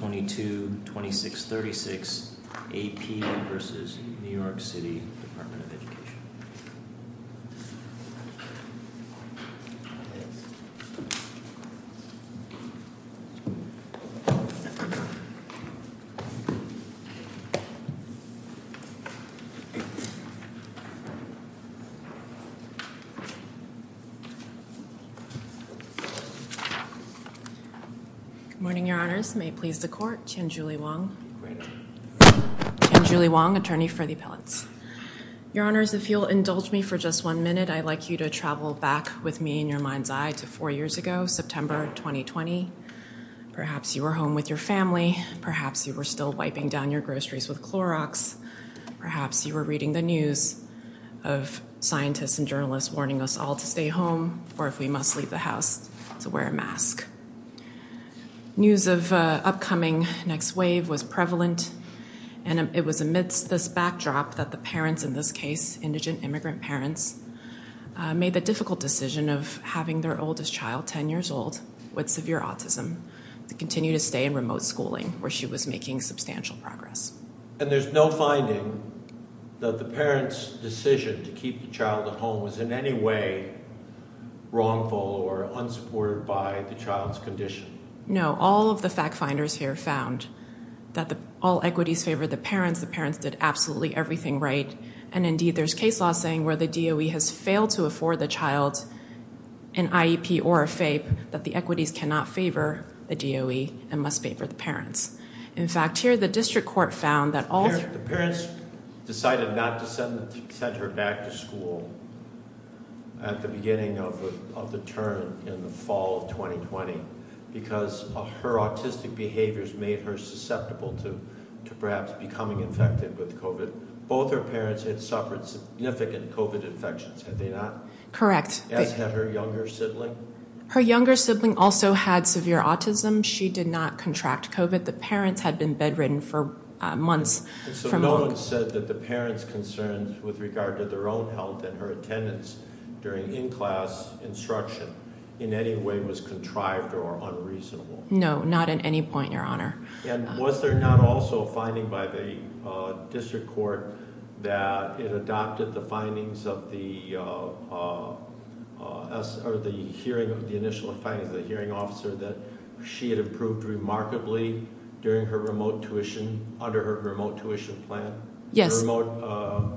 Page 222636 AP v. The New York City Department of Education Page 222636 AP v. The New York City Department of Education Appeal Report Page 222636 AP v. The New York City Department So just exclude me for just one minute. I'd like you to travel back with me in your mind's eye to four years ago, September 2020. Perhaps you were home with your family, perhaps you wereStill wiping down your groceries with Clorox perhaps you were reading the news. Scientists and journalists warning us all to stay home or if we must leave the House to wear a mask. News of upcoming next wave was prevalent. And it was amidst this backdrop that the parents in this case, indigent immigrant parents made the difficult decision of having their oldest child 10 years old with severe autism to continue to stay in remote schooling where she was making substantial progress. And there's no finding that the parents decision to keep the child at home was in any way wrongful or unsupported by the child's condition. No, all of the fact finders here found that the all equities favor the parents, the parents did absolutely everything right. And indeed, there's case law saying where the DOE has failed to afford the child an IEP or a FAPE that the equities cannot favor the DOE and must pay for the parents. In fact, here, the district court found that all the parents decided not to send her back to school at the beginning of the turn in the fall of 2020, because her autistic behaviors made her susceptible to perhaps becoming infected with COVID. Both her parents had suffered significant COVID infections. Had they not? Correct. Has had her younger sibling? Her younger sibling also had severe autism. She did not contract COVID. The parents had been bedridden for months. So no one said that the parents concerns with regard to their own health and her attendance during in-class instruction in any way was contrived or unreasonable? No, not at any point, your honor. And was there not also a finding by the district court that it adopted the findings of the hearing of the initial findings of the hearing officer that she had improved remarkably during her remote tuition, under her remote tuition plan? Yes. Remote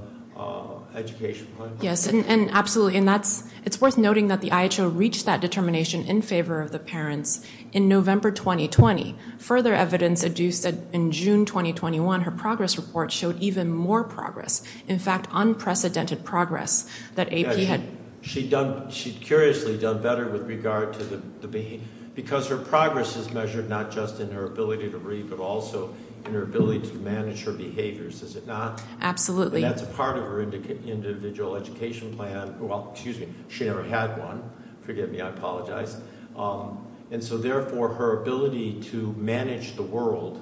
education plan? Yes. And absolutely. And that's, it's worth noting that the IHO reached that determination in favor of the parents in November, 2020. Further evidence adduced in June, 2021, her progress report showed even more progress. In fact, unprecedented progress that AP had. She'd done, she'd curiously done better with regard to the, the, because her progress is measured, not just in her ability to read, but also in her ability to manage her behaviors. Is it not? Absolutely. And that's a part of her individual education plan. Well, excuse me. She never had one. Forgive me. I apologize. And so therefore her ability to manage the world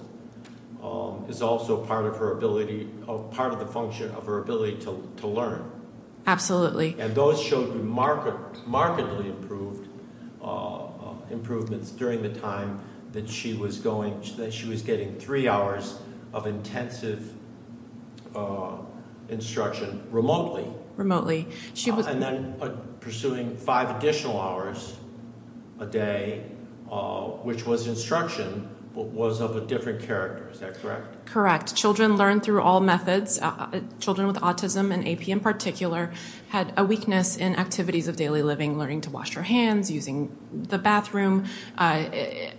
is also part of her ability of part of the function of her ability to learn. Absolutely. And those showed remarkably improved improvements during the time that she was going, that she was getting three hours of intensive instruction. Remotely. Remotely. And then pursuing five additional hours a day, which was instruction, but was of a different character. Is that correct? Correct. Children learn through all methods. Children with autism and AP in particular had a weakness in activities of daily living, learning to wash your hands, using the bathroom.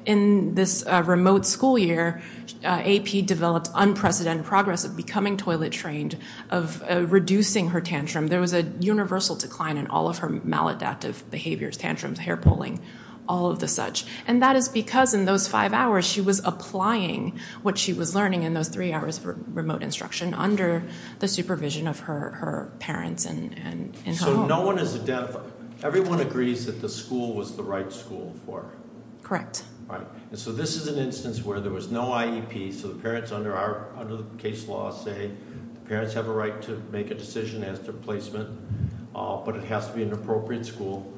In this remote school year, AP developed unprecedented progress of becoming toilet trained, of reducing her tantrum. There was a universal decline in all of her maladaptive behaviors, tantrums, hair pulling, all of the such. And that is because in those five hours, she was applying what she was learning in those three hours for remote instruction under the supervision of her parents and her home. So no one is a deaf. Everyone agrees that the school was the right school for her. Correct. Right. And so this is an instance where there was no IEP. So the parents under our, under the case law say, parents have a right to replacement, but it has to be an appropriate school.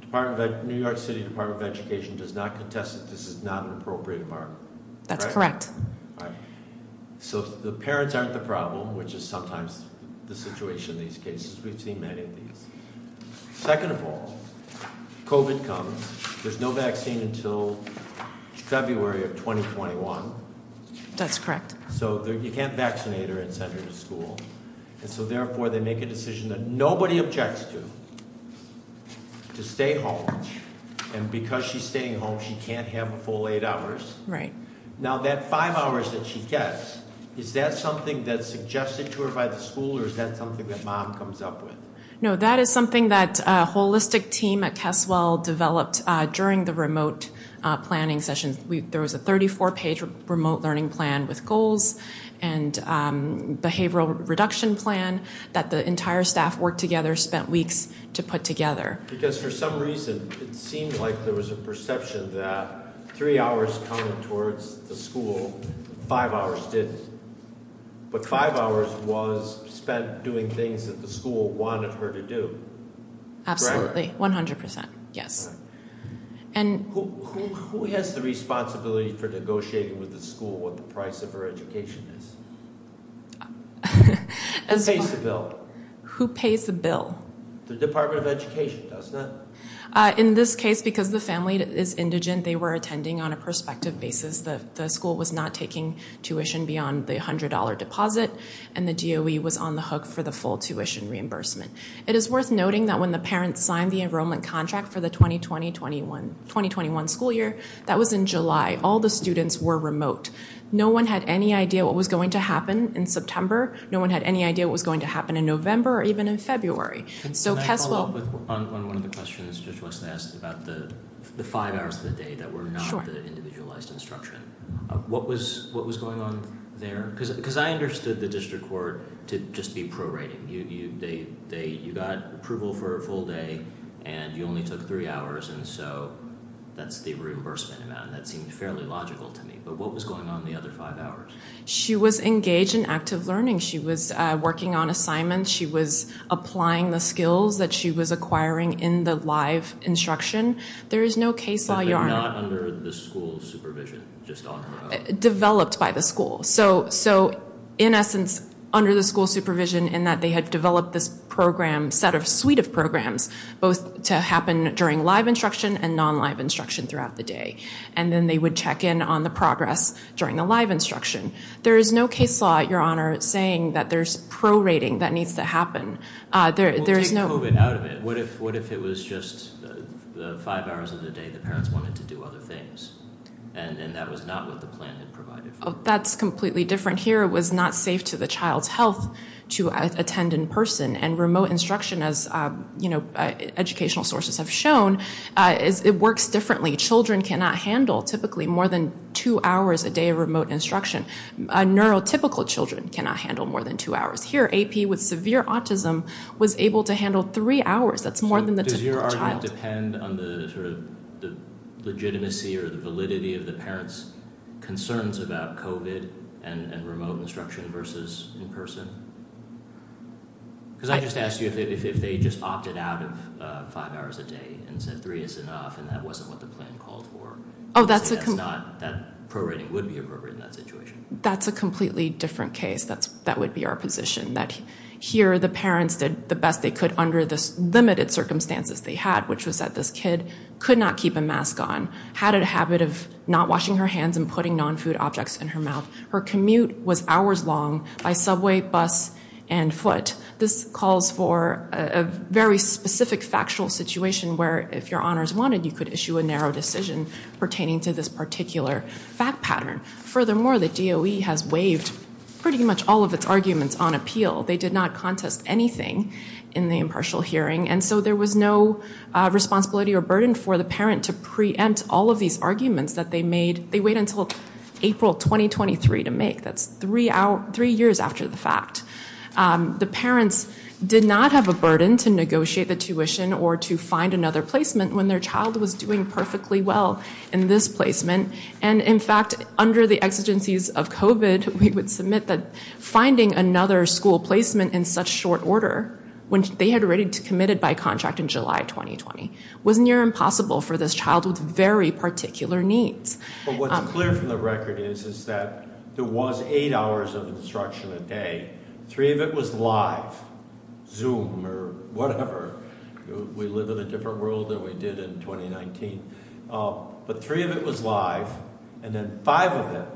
Department of New York City, Department of Education does not contest that this is not an appropriate environment. That's correct. So the parents aren't the problem, which is sometimes the situation in these cases, we've seen many of these. Second of all, COVID comes, there's no vaccine until February of 2021. That's correct. So you can't vaccinate her and send her to school. And so therefore they make a decision that nobody objects to, to stay home. And because she's staying home, she can't have a full eight hours. Right. Now that five hours that she gets, is that something that's suggested to her by the school or is that something that mom comes up with? No, that is something that a holistic team at Keswell developed during the remote planning sessions. We, there was a 34 page remote learning plan with goals and behavioral reduction plan that the entire staff worked together, spent weeks to put together. Because for some reason, it seemed like there was a perception that three hours coming towards the school, five hours didn't, but five hours was spent doing things that the school wanted her to do. Absolutely. 100%. Yes. And who has the responsibility for negotiating with the school, what the price of her education is? Who pays the bill? Who pays the bill? The Department of Education does not. In this case, because the family is indigent, they were attending on a prospective basis that the school was not taking tuition beyond the $100 deposit and the DOE was on the hook for the full tuition reimbursement. It is worth noting that when the parents signed the enrollment contract for the 2020-2021 school year, that was in July, all the students were remote. No one had any idea what was going to happen in September. No one had any idea what was going to happen in November or even in February. Can I follow up on one of the questions Judge Wesson asked about the five hours of the day that were not the individualized instruction? What was going on there? I understood the district court to just be prorating. You got approval for a full day and you only took three hours and so that's the reimbursement amount, and that seemed fairly logical to me, but what was going on in the other five hours? She was engaged in active learning. She was working on assignments. She was applying the skills that she was acquiring in the live instruction. There is no case law. But they're not under the school's supervision, just talking about. Developed by the school. So, in essence, under the school supervision in that they had developed this program, set of suite of programs, both to happen during live instruction and non-live instruction throughout the day, and then they would check in on the progress during the live instruction. There is no case law, Your Honor, saying that there's prorating that needs to happen. We'll take COVID out of it. What if it was just the five hours of the day the parents wanted to do other things and that was not what the plan had provided for them? That's completely different here. It was not safe to the child's health to attend in person and remote instruction, as educational sources have shown, it works differently. Children cannot handle, typically, more than two hours a day of remote instruction. Neurotypical children cannot handle more than two hours. Here, AP with severe autism was able to handle three hours. That's more than the typical child. Does your argument depend on the legitimacy or the validity of the parents' concerns about COVID and remote instruction versus in person? Because I just asked you if they just opted out of five hours a day and said three is enough, and that wasn't what the plan called for. Oh, that's a completely different case. That's that would be our position that here the parents did the best they could under the limited circumstances they had, which was that this kid could not keep a mask on, had a habit of not washing her hands and putting non-food objects in her mouth. Her commute was hours long by subway, bus and foot. This calls for a very specific factual situation where if your honors wanted, you could issue a narrow decision pertaining to this particular fact pattern. Furthermore, the DOE has waived pretty much all of its arguments on appeal. They did not contest anything in the impartial hearing. And so there was no responsibility or burden for the parent to preempt all of these arguments that they made. They wait until April 2023 to make. That's three years after the fact. The parents did not have a burden to negotiate the tuition or to find another placement when their child was doing perfectly well in this placement. And in fact, under the exigencies of COVID, we would submit that finding another school placement in such short order when they had already committed by contract in July 2020 was near impossible for this child with very particular needs. But what's clear from the record is, is that there was eight hours of instruction a day. Three of it was live, Zoom or whatever. We live in a different world than we did in 2019. But three of it was live. And then five of them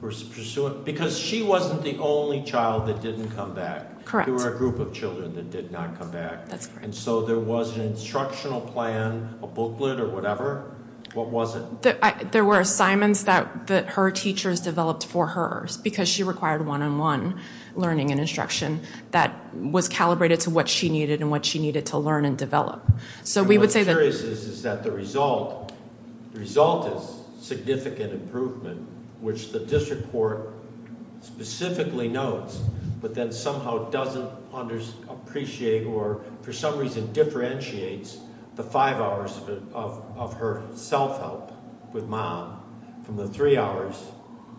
were pursuant because she wasn't the only child that didn't come back. Correct. There were a group of children that did not come back. That's correct. And so there was an instructional plan, a booklet or whatever. What was it? There were assignments that her teachers developed for hers because she required one-on-one learning and instruction that was calibrated to what she needed and what she needed to learn and develop. So we would say that... What's curious is that the result is significant improvement, which the district court specifically notes, but then somehow doesn't appreciate or for some reason differentiates the five hours of her self-help with mom from the three hours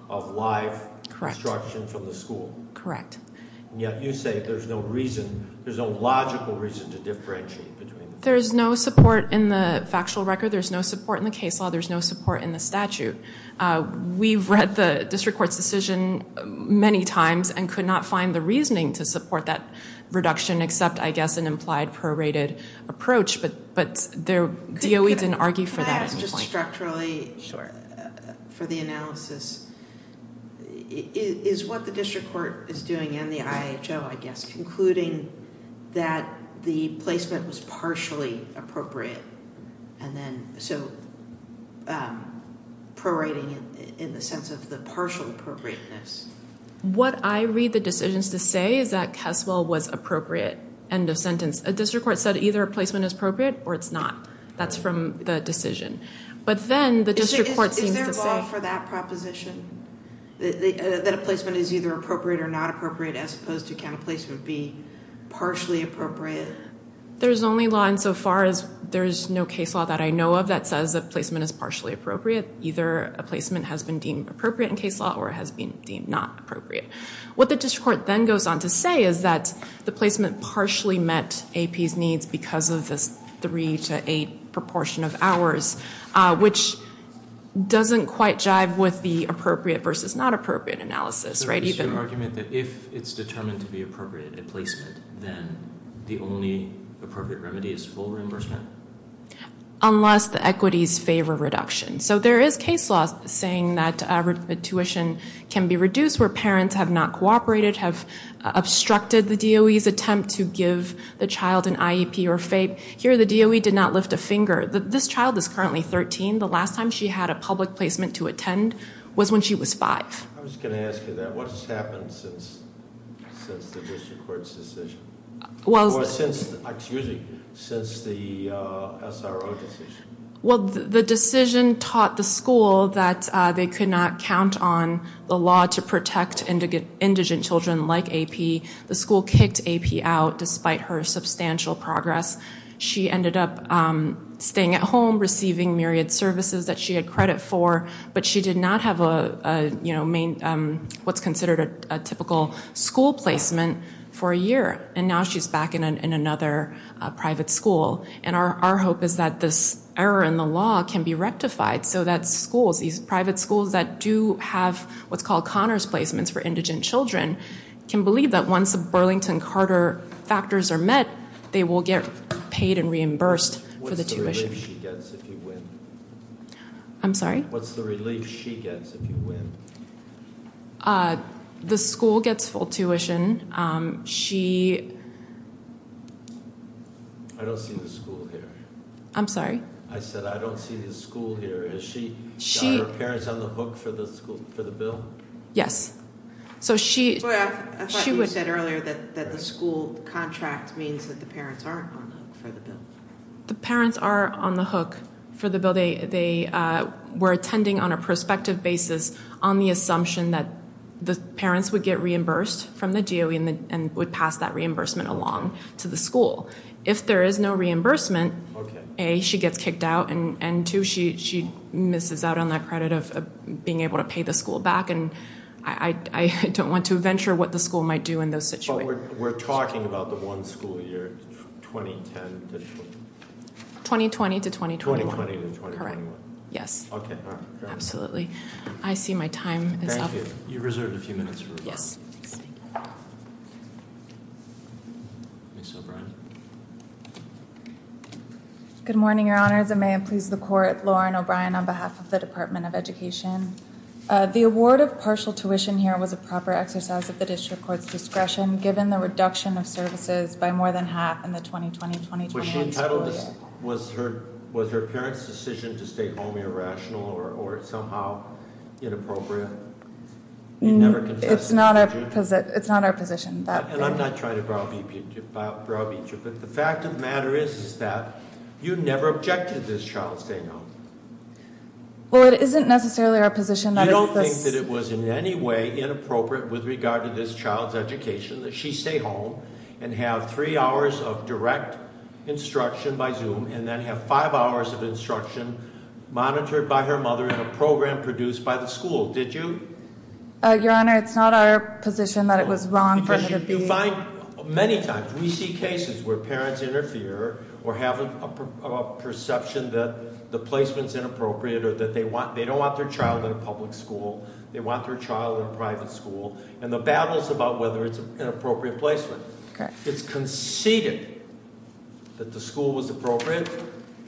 of live instruction from the school. Correct. And yet you say there's no reason, there's no logical reason to differentiate between them. There's no support in the factual record. There's no support in the case law. There's no support in the statute. We've read the district court's decision many times and could not find the reasoning to support that reduction except, I guess, an implied prorated approach. But DOE didn't argue for that at any point. Can I ask just structurally for the analysis? Is what the district court is doing and the IHO, I guess, concluding that the placement was partially appropriate and then so prorating in the sense of the partial appropriateness? What I read the decisions to say is that Caswell was appropriate, end of sentence. A district court said either a placement is appropriate or it's not. That's from the decision. But then the district court seems to say- Is there a law for that proposition, that a placement is either appropriate or not appropriate as opposed to can a placement be partially appropriate? There's only law insofar as there's no case law that I know of that says a placement is partially appropriate. Either a placement has been deemed appropriate in case law or has been deemed not appropriate. What the district court then goes on to say is that the placement partially met AP's needs because of this three to eight proportion of hours, which doesn't quite jive with the appropriate versus not appropriate analysis, right? Is your argument that if it's determined to be appropriate, a placement, then the only appropriate remedy is full reimbursement? Unless the equities favor reduction. So there is case law saying that tuition can be reduced where parents have not cooperated, have obstructed the DOE's attempt to give the child an IEP or FAPE. Here the DOE did not lift a finger. This child is currently 13. The last time she had a public placement to attend was when she was five. I was going to ask you that. What's happened since the district court's decision? Well, since- Excuse me. Since the SRO decision? Well, the decision taught the school that they could not count on the law to protect indigent children like AP. The school kicked AP out despite her substantial progress. She ended up staying at home, receiving myriad services that she had credit for, but she did not have what's considered a typical school placement for a year. And now she's back in another private school. And our hope is that this error in the law can be rectified so that schools, these private schools that do have what's called Connor's placements for indigent children, can believe that once the Burlington-Carter factors are met, they will get paid and reimbursed for the tuition. What's the relief she gets if you win? I'm sorry? What's the relief she gets if you win? The school gets full tuition. She- I don't see the school here. I'm sorry? I said, I don't see the school here. Is she- She- Got her parents on the hook for the school, for the bill? Yes. So she- Boy, I thought you said earlier that the school contract means that the parents aren't on the hook for the bill. The parents are on the hook for the bill. They were attending on a prospective basis on the assumption that the parents would get If there is no reimbursement, A, she gets kicked out, and two, she misses out on that credit of being able to pay the school back. And I don't want to venture what the school might do in those situations. But we're talking about the one school year, 2010 to- 2020 to 2021. 2020 to 2021. Correct. Yes. Okay, all right. I see my time is up. Thank you. You reserved a few minutes for rebuttal. Yes. Thank you. Ms. O'Brien. Good morning, your honors. And may it please the court, Lauren O'Brien on behalf of the Department of Education. The award of partial tuition here was a proper exercise of the district court's discretion, given the reduction of services by more than half in the 2020-2021 school year. Was she entitled to- Was her- Was her parents' decision to stay home irrational or somehow inappropriate? You never confessed, did you? It's not our position that- And I'm not trying to browbeat you. But the fact of the matter is, is that you never objected this child's staying home. Well, it isn't necessarily our position that- You don't think that it was in any way inappropriate with regard to this child's education that she stay home and have three hours of direct instruction by Zoom, and then have five hours of instruction monitored by her mother in a program produced by the school. Did you? Your honor, it's not our position that it was wrong for her to be- You find many times, we see cases where parents interfere or have a perception that the placement's inappropriate or that they don't want their child in a public school. They want their child in a private school. And the battles about whether it's an appropriate placement. It's conceded that the school was appropriate.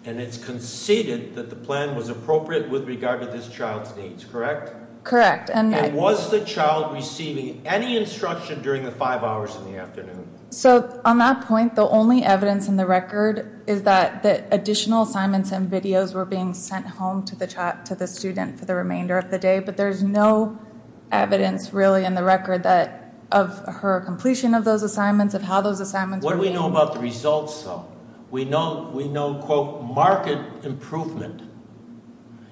And it's conceded that the plan was appropriate with regard to this child's needs, correct? Correct. And was the child receiving any instruction during the five hours in the afternoon? So on that point, the only evidence in the record is that the additional assignments and videos were being sent home to the student for the remainder of the day. But there's no evidence really in the record that of her completion of those assignments, of how those assignments were being- What do we know about the results, though? We know, quote, marked improvement.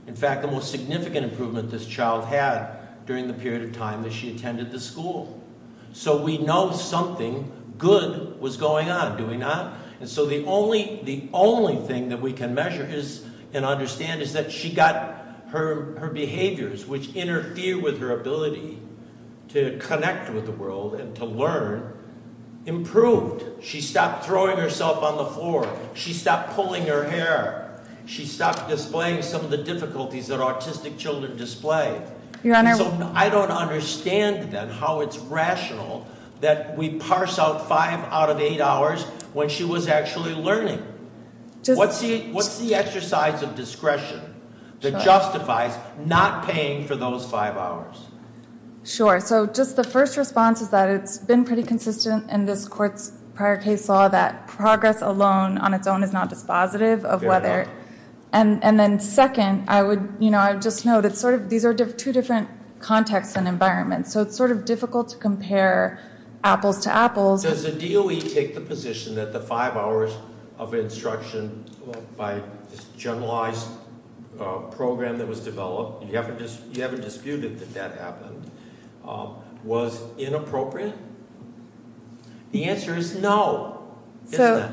In fact, the most significant improvement this child had during the period of time that she attended the school. So we know something good was going on, do we not? And so the only thing that we can measure and understand is that she got her behaviors, which interfere with her ability to connect with the world and to learn, improved. She stopped throwing herself on the floor. She stopped pulling her hair. She stopped displaying some of the difficulties that autistic children display. Your Honor- And so I don't understand then how it's rational that we parse out five out of eight hours when she was actually learning. What's the exercise of discretion that justifies not paying for those five hours? Sure. So just the first response is that it's been pretty consistent in this court's prior case law that progress alone on its own is not dispositive of whether- Fair enough. And then second, I would, you know, I just know that sort of, these are two different contexts and environments. So it's sort of difficult to compare apples to apples. Does the DOE take the position that the five hours of instruction by this generalized program that was developed, you haven't disputed that that happened, was inappropriate? The answer is no. So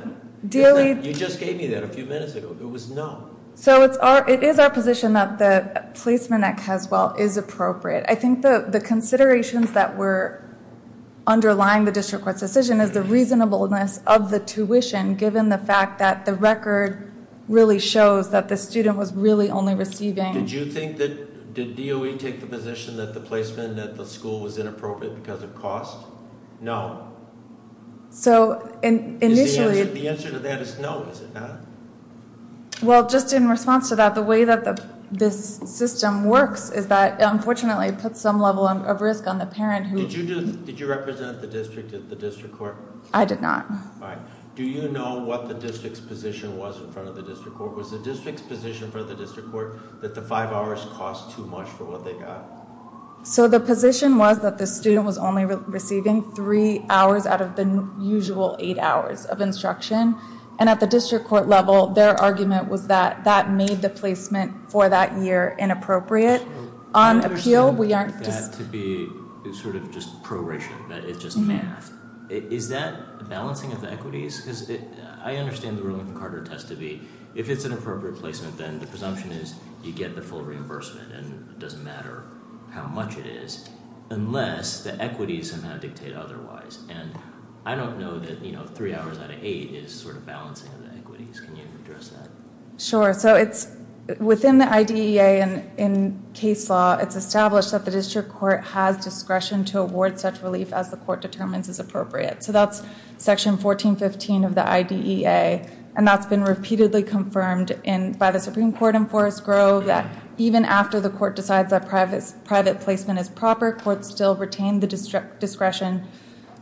DOE- You just gave me that a few minutes ago. It was no. So it's our, it is our position that the placement at Caswell is appropriate. I think the considerations that were underlying the district court's decision is the reasonableness of the tuition, given the fact that the record really shows that the student was really only receiving- Did you think that, did DOE take the position that the placement at the school was inappropriate because of cost? No. So initially- The answer to that is no, is it not? Well, just in response to that, the way that this system works is that it unfortunately puts some level of risk on the parent who- Did you do, did you represent the district at the district court? I did not. All right. Do you know what the district's position was in front of the district court? Was the district's position for the district court that the five hours cost too much for what they got? So the position was that the student was only receiving three hours out of the usual eight hours of instruction. And at the district court level, their argument was that that made the placement for that year inappropriate. On appeal, we aren't- I understand that to be sort of just proration, that it's just math. Is that balancing of the equities? I understand the ruling from Carter test to be, if it's an appropriate placement, then the presumption is you get the full reimbursement and it doesn't matter how much it is, unless the equities somehow dictate otherwise. And I don't know that three hours out of eight is sort of balancing of the equities. Can you address that? Sure. So it's within the IDEA and in case law, it's established that the district court has discretion to award such relief as the court determines is appropriate. So that's section 1415 of the IDEA. And that's been repeatedly confirmed by the Supreme Court in Forest Grove that even after the court decides that private placement is proper, courts still retain the discretion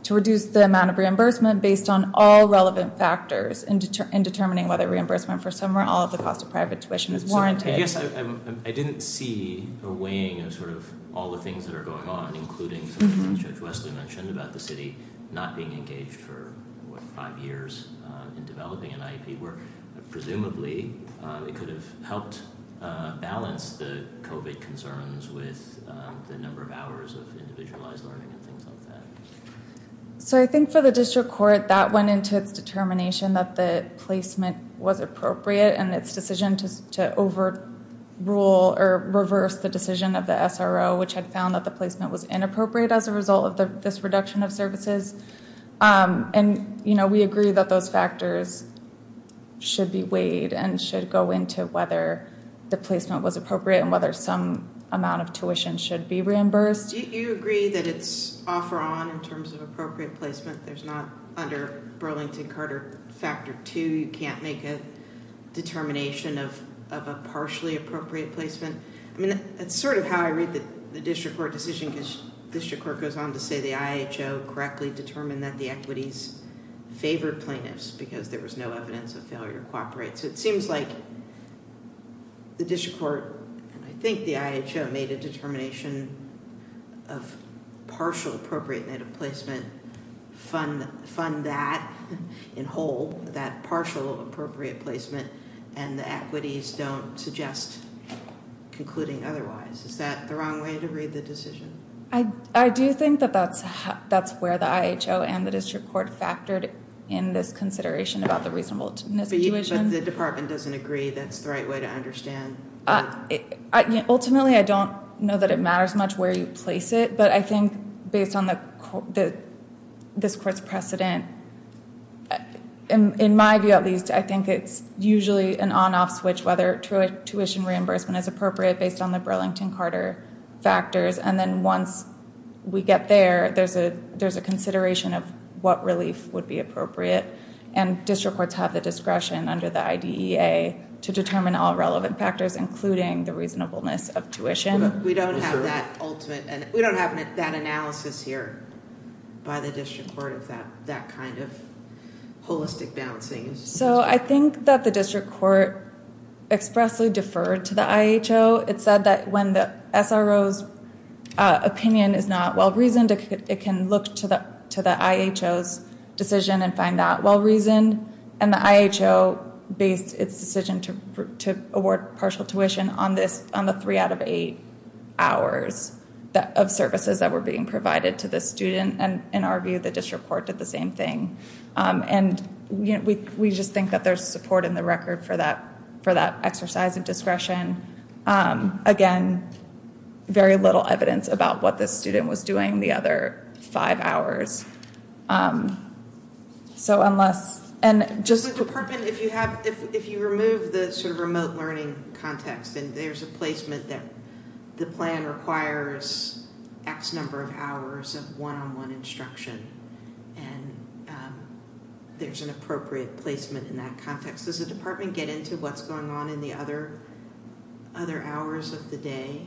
to reduce the amount of reimbursement based on all relevant factors in determining whether reimbursement for some or all of the cost of private tuition is warranted. Yes. I didn't see a weighing of sort of all the things that are going on, including Judge Wesley mentioned about the city not being engaged for five years in developing an IEP where presumably it could have helped balance the COVID concerns with the number of hours of individualized learning and things like that. So I think for the district court, that went into its determination that the placement was appropriate and its decision to overrule or reverse the decision of the SRO, which had found that the placement was inappropriate as a result of this reduction of services. And, you know, we agree that those factors should be weighed and should go into whether the placement was appropriate and whether some amount of tuition should be reimbursed. Do you agree that it's off or on in terms of appropriate placement? There's not under Burlington-Carter factor two, you can't make a determination of a partially appropriate placement. I mean, that's sort of how I read the district court decision because district court goes on to say the IHO correctly determined that the equities favored plaintiffs because there was no evidence of failure to cooperate. So it seems like the district court and I think the IHO made a determination of partial appropriate placement, fund that in whole, that partial appropriate placement and the equities don't suggest concluding otherwise. Is that the wrong way to read the decision? I do think that that's where the IHO and the district court factored in this consideration about the reasonableness of tuition. But the department doesn't agree that's the right way to understand. Ultimately, I don't know that it matters much where you place it, but I think based on this court's precedent, in my view at least, I think it's usually an on-off switch whether tuition reimbursement is appropriate based on the Burlington-Carter factors. And then once we get there, there's a consideration of what relief would be appropriate. And district courts have the discretion under the IDEA to determine all relevant factors, including the reasonableness of tuition. We don't have that ultimate, and we don't have that analysis here by the district court of that kind of holistic balancing. So I think that the district court expressly deferred to the IHO. It said that when the SRO's opinion is not well-reasoned, it can look to the IHO's decision and find that well-reasoned. And the IHO based its decision to award partial tuition on the three out of eight hours of services that were being provided to the student. And in our view, the district court did the same thing. And we just think that there's support in the record for that exercise of discretion. Again, very little evidence about what the student was doing the other five hours. So unless, and just- The department, if you have, if you remove the sort of remote learning context, and there's a placement that the plan requires X number of hours of one-on-one instruction, and there's an appropriate placement in that context, does the department get into what's going on in the other hours of the day?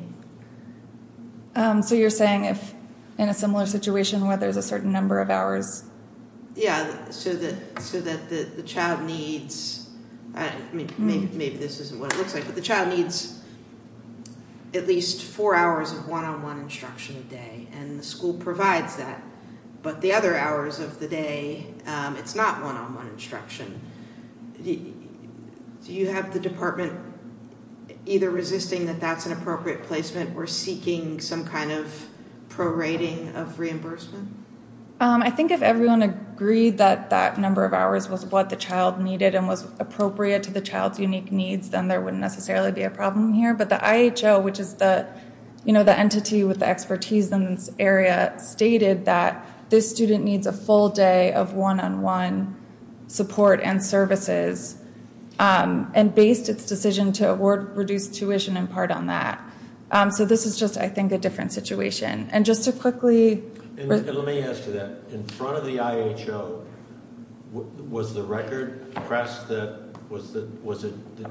So you're saying if in a similar situation where there's a certain number of hours? Yeah, so that the child needs, maybe this isn't what it looks like, but the child needs at least four hours of one-on-one instruction a day, and the school provides that. But the other hours of the day, it's not one-on-one instruction. Do you have the department either resisting that that's an appropriate placement, or seeking some kind of prorating of reimbursement? I think if everyone agreed that that number of hours was what the child needed, and was appropriate to the child's unique needs, then there wouldn't necessarily be a problem here. But the IHO, which is the entity with the expertise in this area, stated that this student needs a full day of one-on-one support and services, and based its decision to award reduced tuition in part on that. So this is just, I think, a different situation. And just to quickly... Let me ask you that. In front of the IHO, was the record pressed that was the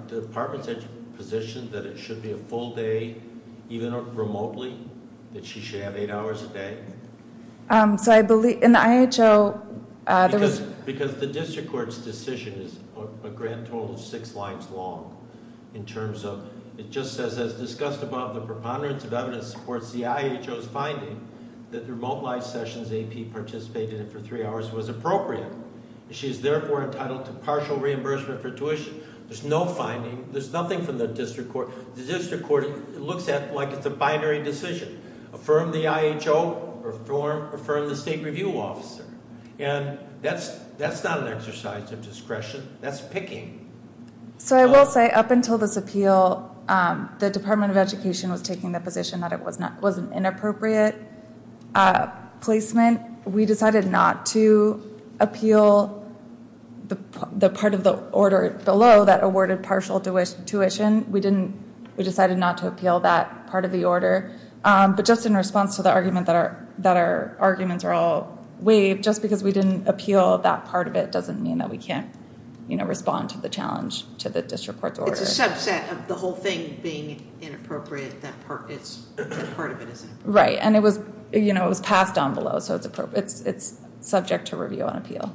department's position that it should be a full day, even remotely, that she should have eight hours a day? So I believe, in the IHO, there was... Because the district court's decision is a grand total of six lines long, in terms of, it just says, as discussed above, the preponderance of evidence supports the IHO's finding that the remote live sessions AP participated in for three hours was appropriate. She is therefore entitled to partial reimbursement for tuition. There's no finding. There's nothing from the district court. The district court looks at it like it's a binary decision. Affirm the IHO, or affirm the state review officer. And that's not an exercise of discretion. That's picking. So I will say, up until this appeal, the Department of Education was taking the position that it was an inappropriate placement. We decided not to appeal the part of the order below that awarded partial tuition. We decided not to appeal that part of the order. But just in response to the argument that our arguments are all waived, just because we didn't appeal that part of it doesn't mean that we can't respond to the challenge to the district court's order. It's a subset of the whole thing being inappropriate, that part of it isn't. Right, and it was passed down below, so it's subject to review and appeal.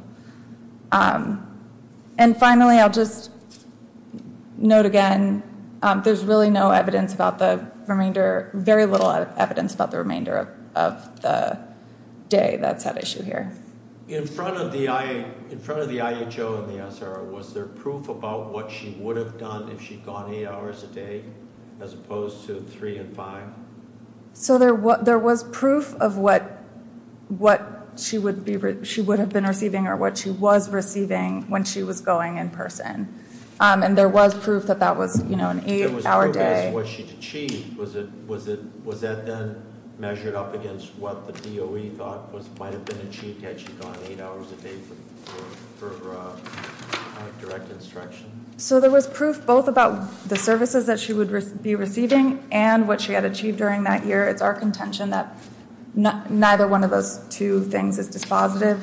And finally, I'll just note again, there's really no evidence about the remainder, very little evidence about the remainder of the day that's at issue here. In front of the IHO and the SRO, was there proof about what she would have done if she'd gone eight hours a day, as opposed to three and five? So there was proof of what she would have been receiving or what she was receiving when she was going in person. And there was proof that that was an eight hour day. What she'd achieved, was that then measured up against what the DOE thought might have been achieved had she gone eight hours a day for direct instruction? So there was proof both about the services that she would be receiving and what she had achieved during that year. It's our contention that neither one of those two things is dispositive.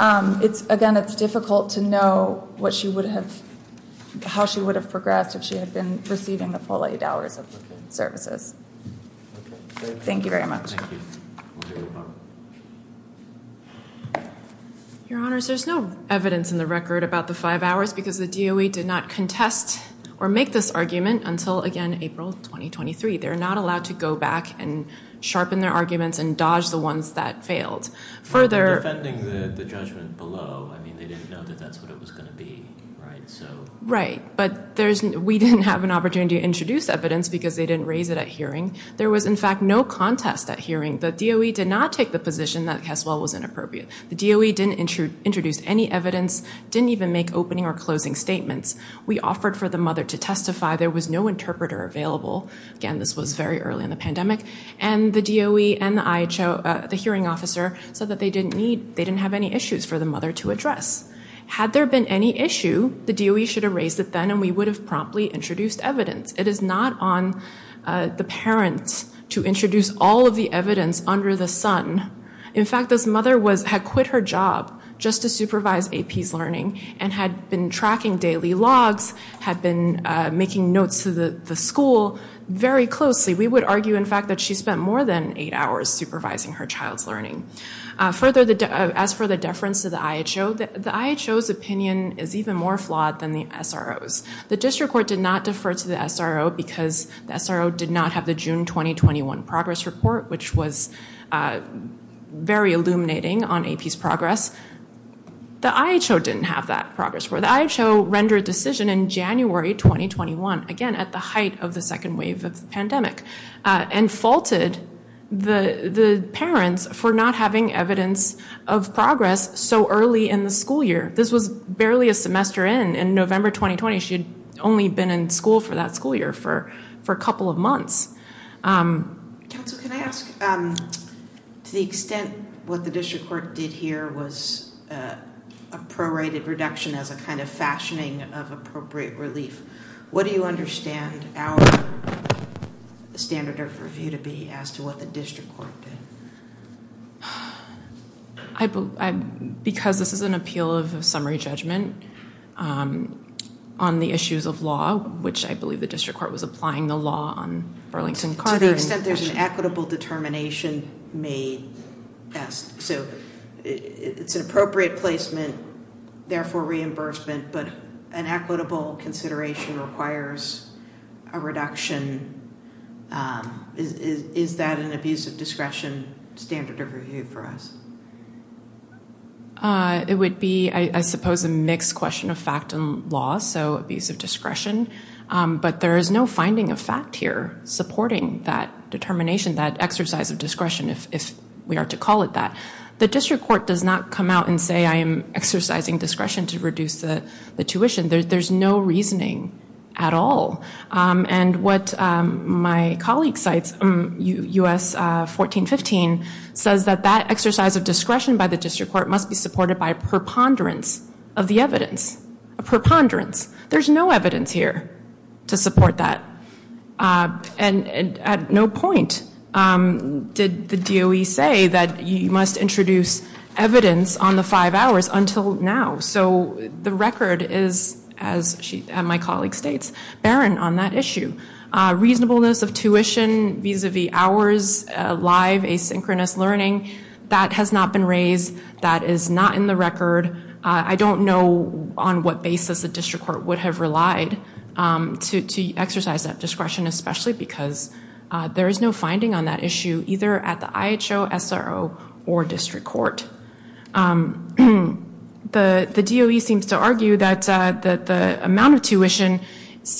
Again, it's difficult to know how she would have progressed if she had been receiving the full eight hours of services. Thank you very much. Thank you. Your honors, there's no evidence in the record about the five hours because the DOE did not contest or make this argument until again, April, 2023. They're not allowed to go back and sharpen their arguments and dodge the ones that failed. Further- Defending the judgment below. I mean, they didn't know that that's what it was gonna be. Right, but we didn't have an opportunity to introduce evidence because they didn't raise it at hearing. There was in fact, no contest at hearing. The DOE did not take the position that Caswell was inappropriate. The DOE didn't introduce any evidence, didn't even make opening or closing statements. We offered for the mother to testify. There was no interpreter available. Again, this was very early in the pandemic. And the DOE and the hearing officer said that they didn't have any issues for the mother to address. Had there been any issue, the DOE should have raised it then and we would have promptly introduced evidence. It is not on the parents to introduce all of the evidence under the sun. In fact, this mother had quit her job just to supervise AP's learning and had been tracking daily logs, had been making notes to the school very closely. We would argue in fact, that she spent more than eight hours supervising her child's learning. As for the deference to the IHO, the IHO's opinion is even more flawed than the SRO's. The district court did not defer to the SRO because the SRO did not have the June 2021 progress report, which was very illuminating on AP's progress. The IHO didn't have that progress report. The IHO rendered a decision in January 2021, again, at the height of the second wave of the pandemic and faulted the parents for not having evidence of progress so early in the school year. This was barely a semester in. In November 2020, she had only been in school for that school year for a couple of months. Counsel, can I ask, to the extent what the district court did here was a prorated reduction as a kind of fashioning of appropriate relief, what do you understand our standard of review to be as to what the district court did? I, because this is an appeal of summary judgment on the issues of law, which I believe the district court was applying the law on Burlington-Carter. To the extent there's an equitable determination made, yes, so it's an appropriate placement, therefore reimbursement, but an equitable consideration requires a reduction. Is that an abuse of discretion? Standard of review for us? It would be, I suppose, a mixed question of fact and law, so abuse of discretion, but there is no finding of fact here supporting that determination, that exercise of discretion, if we are to call it that. The district court does not come out and say I am exercising discretion to reduce the tuition. There's no reasoning at all. And what my colleague cites, U.S. 1415, says that that exercise of discretion by the district court must be supported by a preponderance of the evidence, a preponderance. There's no evidence here to support that. And at no point did the DOE say that you must introduce evidence on the five hours until now. So the record is, as my colleague states, barren on that issue. Reasonableness of tuition, vis-a-vis hours, live asynchronous learning, that has not been raised. That is not in the record. I don't know on what basis the district court would have relied to exercise that discretion, especially because there is no finding on that issue either at the IHO, SRO, or district court. The DOE seems to argue that the amount of tuition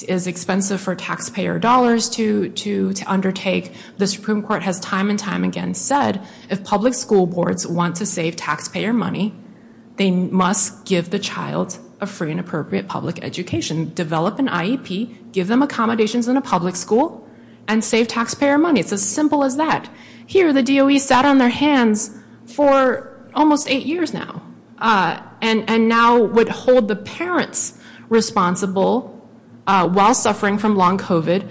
is expensive for taxpayer dollars to undertake. The Supreme Court has time and time again said, if public school boards want to save taxpayer money, they must give the child a free and appropriate public education. Develop an IEP, give them accommodations in a public school, and save taxpayer money. It's as simple as that. Here, the DOE sat on their hands for almost eight years now. And now would hold the parents responsible while suffering from long COVID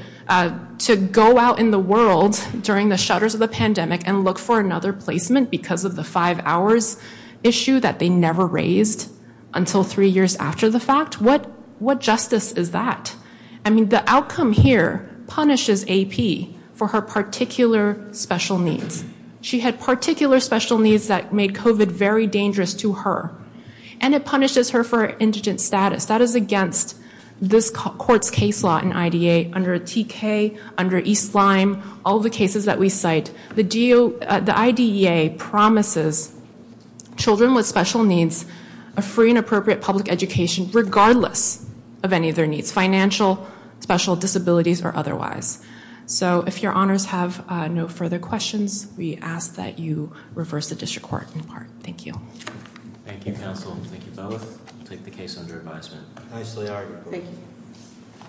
to go out in the world during the shutters of the pandemic and look for another placement because of the five hours issue that they never raised until three years after the fact? What justice is that? I mean, the outcome here punishes AP for her particular special needs. She had particular special needs that made COVID very dangerous to her. And it punishes her for indigent status. That is against this court's case law in IDEA under TK, under East Lime, all the cases that we cite. The IDEA promises children with special needs a free and appropriate public education regardless of any of their needs, financial, special, disabilities, or otherwise. So if your honors have no further questions, we ask that you reverse the district court in part. Thank you. Thank you, counsel. Thank you both. Take the case under advisement. Nicely argued. Thank you.